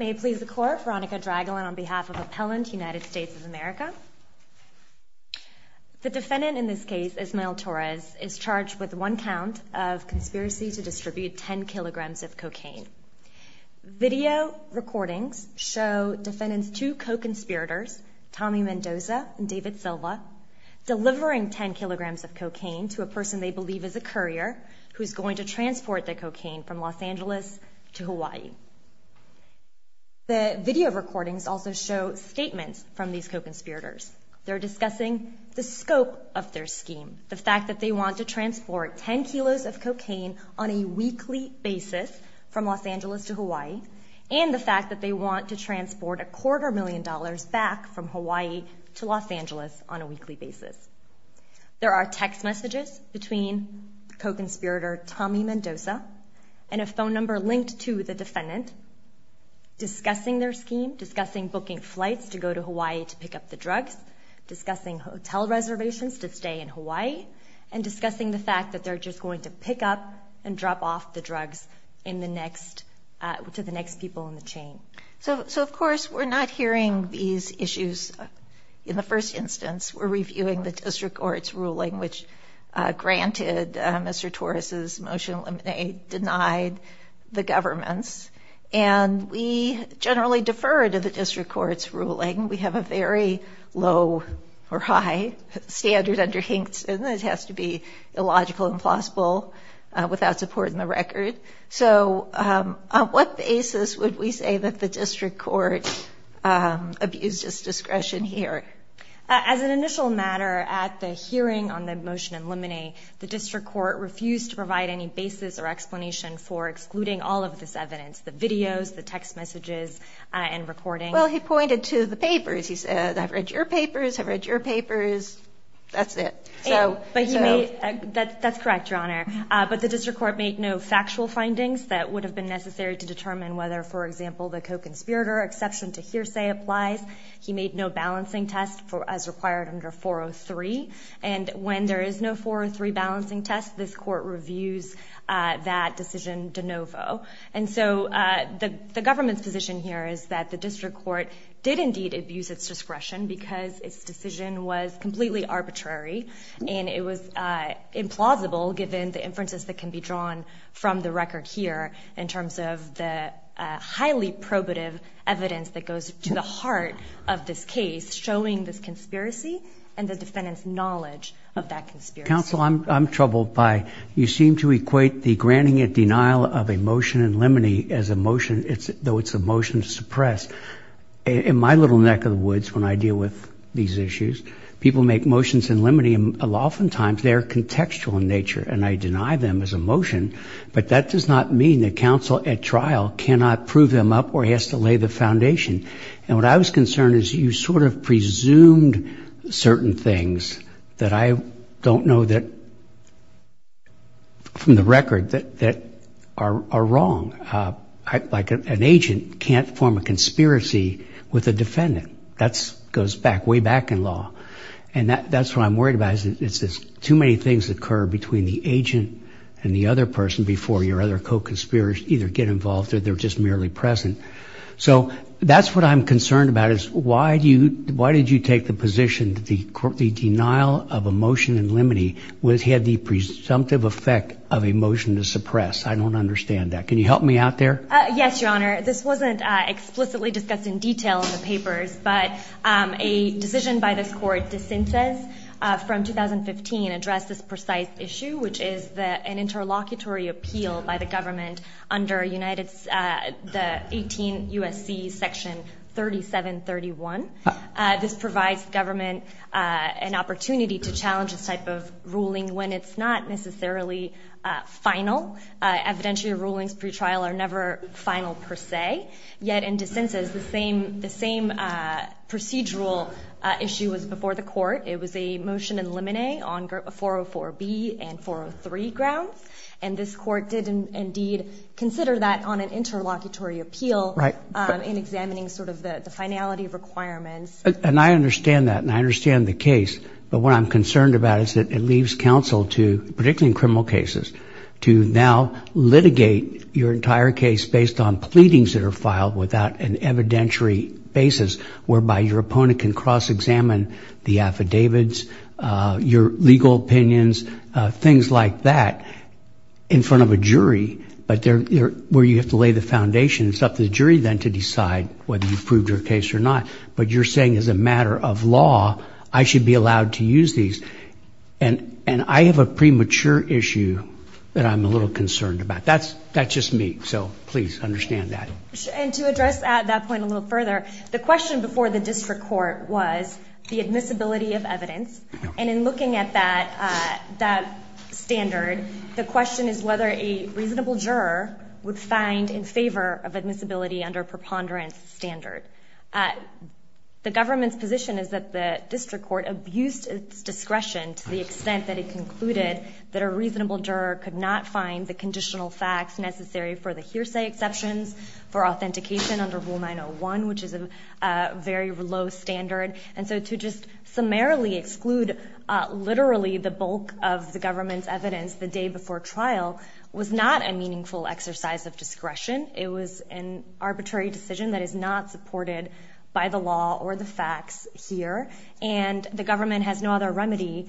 is charged with one count of conspiracy to distribute 10 kilograms of cocaine. Video recordings show defendants two co-conspirators, Tommy Mendoza and David Silva, delivering 10 kilograms of cocaine to a person they believe is a courier who is going to transfer the cocaine to the defendant. The video recordings also show statements from these co-conspirators. They're discussing the scope of their scheme, the fact that they want to transport 10 kilos of cocaine on a weekly basis from Los Angeles to Hawaii, and the fact that they want to transport a quarter million dollars back from Hawaii to Los Angeles on a weekly basis. There are text messages between co-conspirator Tommy Mendoza and a phone number linked to the defendant discussing their scheme, discussing booking flights to go to Hawaii to pick up the drugs, discussing hotel reservations to stay in Hawaii, and discussing the fact that they're just going to pick up and drop off the drugs to the next people in the chain. So, of course, we're not hearing these issues in the first instance. We're reviewing the district court's ruling, which granted Mr. Torres's motion to eliminate, denied the government's, and we generally defer to the district court's ruling. We have a very low or high standard under Hinkson. It has to be illogical, implausible, without support in the record. So on what basis would we say that the district court abused its discretion here? As an initial matter, at the hearing on the motion to eliminate, the district court refused to provide any basis or explanation for excluding all of this evidence, the videos, the text messages, and recordings. Well, he pointed to the papers. He said, I've read your papers. I've read your papers. That's it. That's correct, Your Honor. But the district court made no factual findings that would have been necessary to determine whether, for example, the co-conspirator exception to hearsay applies. He made no balancing test as required under 403. And when there is no 403 balancing test, this court reviews that decision de novo. And so the government's position here is that the district court did indeed abuse its discretion because its decision was completely arbitrary. And it was implausible, given the inferences that can be drawn from the record here in terms of the highly probative evidence that goes to the heart of this case, showing this conspiracy and the defendant's knowledge of that conspiracy. Counsel, I'm troubled by you seem to equate the granting a denial of a motion in limine as a motion, though it's a motion to suppress. In my little neck of the woods when I deal with these issues, people make motions in limine. Oftentimes, they are contextual in nature, and I deny them as a motion. But that does not mean that counsel at trial cannot prove them up or has to lay the foundation. And what I was concerned is you sort of presumed certain things that I don't know that from the record that are wrong. Like an agent can't form a conspiracy with a defendant. That goes back way back in law. And that's what I'm worried about is too many things occur between the agent and the other person before your other co-conspirators either get involved or they're just merely present. So that's what I'm concerned about is why did you take the position that the denial of a motion in limine had the presumptive effect of a motion to suppress? I don't understand that. Can you help me out there? Yes, Your Honor. Thank you, Your Honor. This wasn't explicitly discussed in detail in the papers, but a decision by this court, de Sinces, from 2015 addressed this precise issue, which is an interlocutory appeal by the government under the 18 U.S.C. section 3731. This provides government an opportunity to challenge this type of ruling when it's not necessarily final. Evidentiary rulings pre-trial are never final per se. Yet in de Sinces, the same procedural issue was before the court. It was a motion in limine on 404B and 403 grounds. And this court did indeed consider that on an interlocutory appeal in examining sort of the finality requirements. And I understand that, and I understand the case. But what I'm concerned about is that it leaves counsel to, particularly in criminal cases, to now litigate your entire case based on pleadings that are filed without an evidentiary basis, whereby your opponent can cross-examine the affidavits, your legal opinions, things like that in front of a jury, where you have to lay the foundation. It's up to the jury then to decide whether you've proved your case or not. But you're saying as a matter of law, I should be allowed to use these. And I have a premature issue that I'm a little concerned about. That's just me. So please understand that. And to address that point a little further, the question before the district court was the admissibility of evidence. And in looking at that standard, the question is whether a reasonable juror would find in favor of admissibility under a preponderance standard. The government's position is that the district court abused its discretion to the extent that it concluded that a reasonable juror could not find the conditional facts necessary for the hearsay exceptions, for authentication under Rule 901, which is a very low standard. And so to just summarily exclude literally the bulk of the government's evidence the day before trial was not a meaningful exercise of discretion. It was an arbitrary decision that is not supported by the law or the facts here. And the government has no other remedy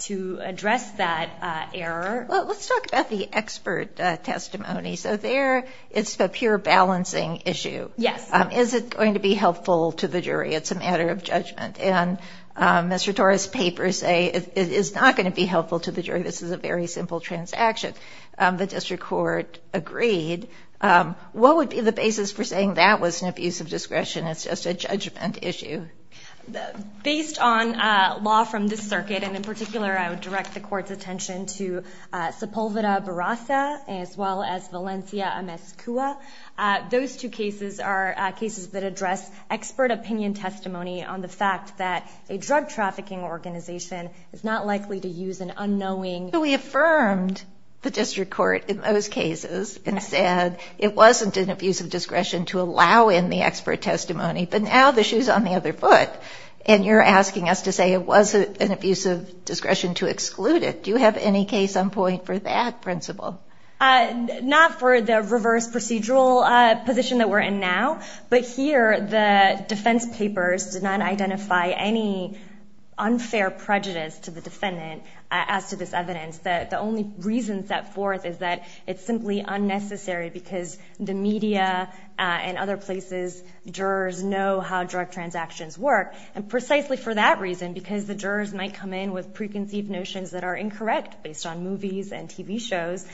to address that error. Well, let's talk about the expert testimony. So there it's a pure balancing issue. Yes. Is it going to be helpful to the jury? It's a matter of judgment. And Mr. Tora's papers say it is not going to be helpful to the jury. This is a very simple transaction. The district court agreed. What would be the basis for saying that was an abuse of discretion? It's just a judgment issue. Based on law from this circuit, and in particular I would direct the court's attention to Sepulveda Barasa as well as Valencia Amescua, those two cases are cases that address expert opinion testimony on the fact that a drug trafficking organization is not likely to use an unknowing. We affirmed the district court in those cases and said it wasn't an abuse of discretion to allow in the expert testimony. But now the shoe's on the other foot, and you're asking us to say it was an abuse of discretion to exclude it. Do you have any case on point for that principle? Not for the reverse procedural position that we're in now. But here the defense papers did not identify any unfair prejudice to the defendant as to this evidence. The only reason set forth is that it's simply unnecessary because the media and other places, jurors know how drug transactions work. And precisely for that reason, because the jurors might come in with preconceived notions that are incorrect based on movies and TV shows,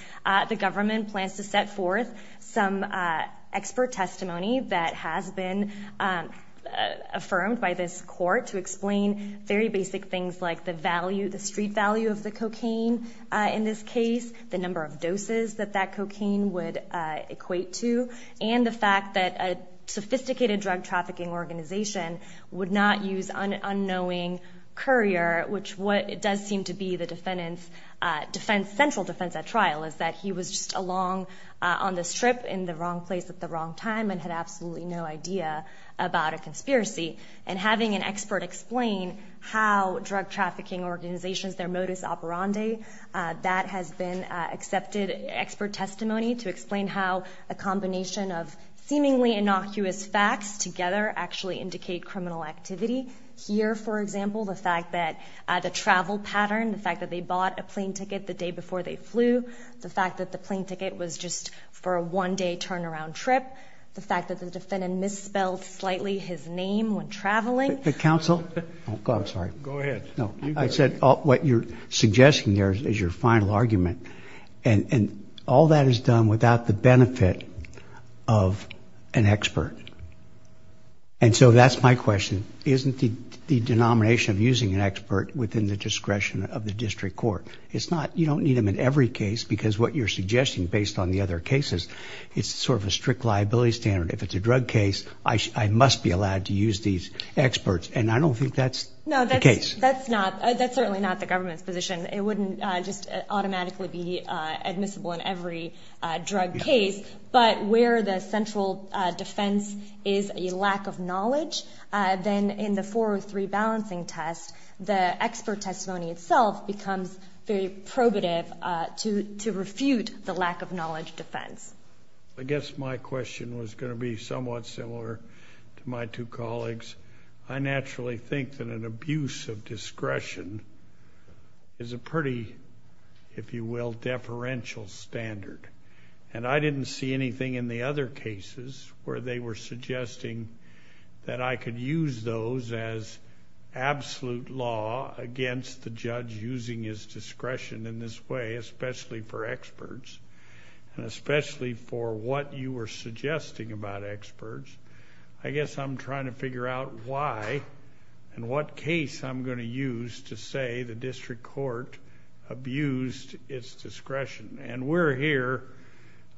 the government plans to set forth some expert testimony that has been affirmed by this court to explain very basic things like the street value of the cocaine in this case, the number of doses that that cocaine would equate to, and the fact that a sophisticated drug trafficking organization would not use an unknowing courier, which does seem to be the central defense at trial is that he was just along on this trip in the wrong place at the wrong time and had absolutely no idea about a conspiracy. And having an expert explain how drug trafficking organizations, their modus operandi, that has been accepted expert testimony to explain how a combination of seemingly innocuous facts together actually indicate criminal activity. Here, for example, the fact that the travel pattern, the fact that they bought a plane ticket the day before they flew, the fact that the plane ticket was just for a one-day turnaround trip, the fact that the defendant misspelled slightly his name when traveling. Counsel? I'm sorry. Go ahead. No, I said what you're suggesting there is your final argument. And all that is done without the benefit of an expert. And so that's my question. Isn't the denomination of using an expert within the discretion of the district court? It's not. You don't need them in every case because what you're suggesting based on the other cases, it's sort of a strict liability standard. If it's a drug case, I must be allowed to use these experts. And I don't think that's the case. That's not. That's certainly not the government's position. It wouldn't just automatically be admissible in every drug case. But where the central defense is a lack of knowledge, then in the 403 balancing test, the expert testimony itself becomes very probative to refute the lack of knowledge defense. I guess my question was going to be somewhat similar to my two colleagues. I naturally think that an abuse of discretion is a pretty, if you will, deferential standard. And I didn't see anything in the other cases where they were suggesting that I could use those as absolute law against the judge using his discretion in this way, especially for experts, and especially for what you were suggesting about experts. I guess I'm trying to figure out why and what case I'm going to use to say the district court abused its discretion. And we're here.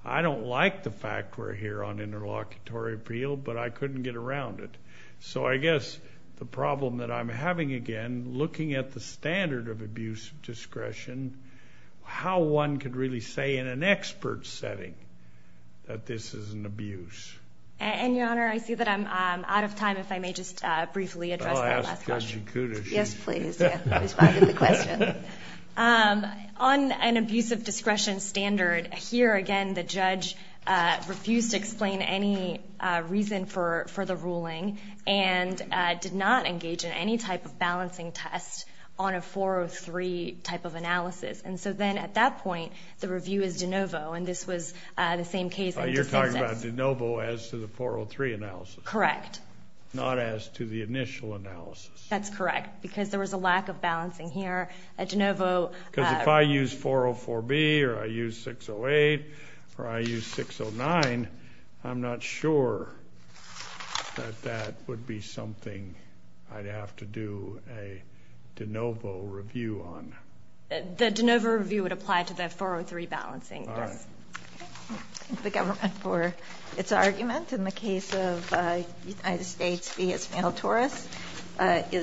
I don't like the fact we're here on interlocutory appeal, but I couldn't get around it. So I guess the problem that I'm having, again, looking at the standard of abuse of discretion, how one could really say in an expert setting that this is an abuse. And, Your Honor, I see that I'm out of time. If I may just briefly address that last question. I'll ask Judge Okuda. Yes, please. Respond to the question. On an abuse of discretion standard, here, again, the judge refused to explain any reason for the ruling and did not engage in any type of balancing test on a 403 type of analysis. And so then at that point, the review is de novo, and this was the same case. You're talking about de novo as to the 403 analysis. Correct. Not as to the initial analysis. That's correct, because there was a lack of balancing here. A de novo. Because if I use 404B or I use 608 or I use 609, I'm not sure that that would be something I'd have to do a de novo review on. The de novo review would apply to the 403 balancing test. Thank the government for its argument in the case of United States v. Esmael Torres.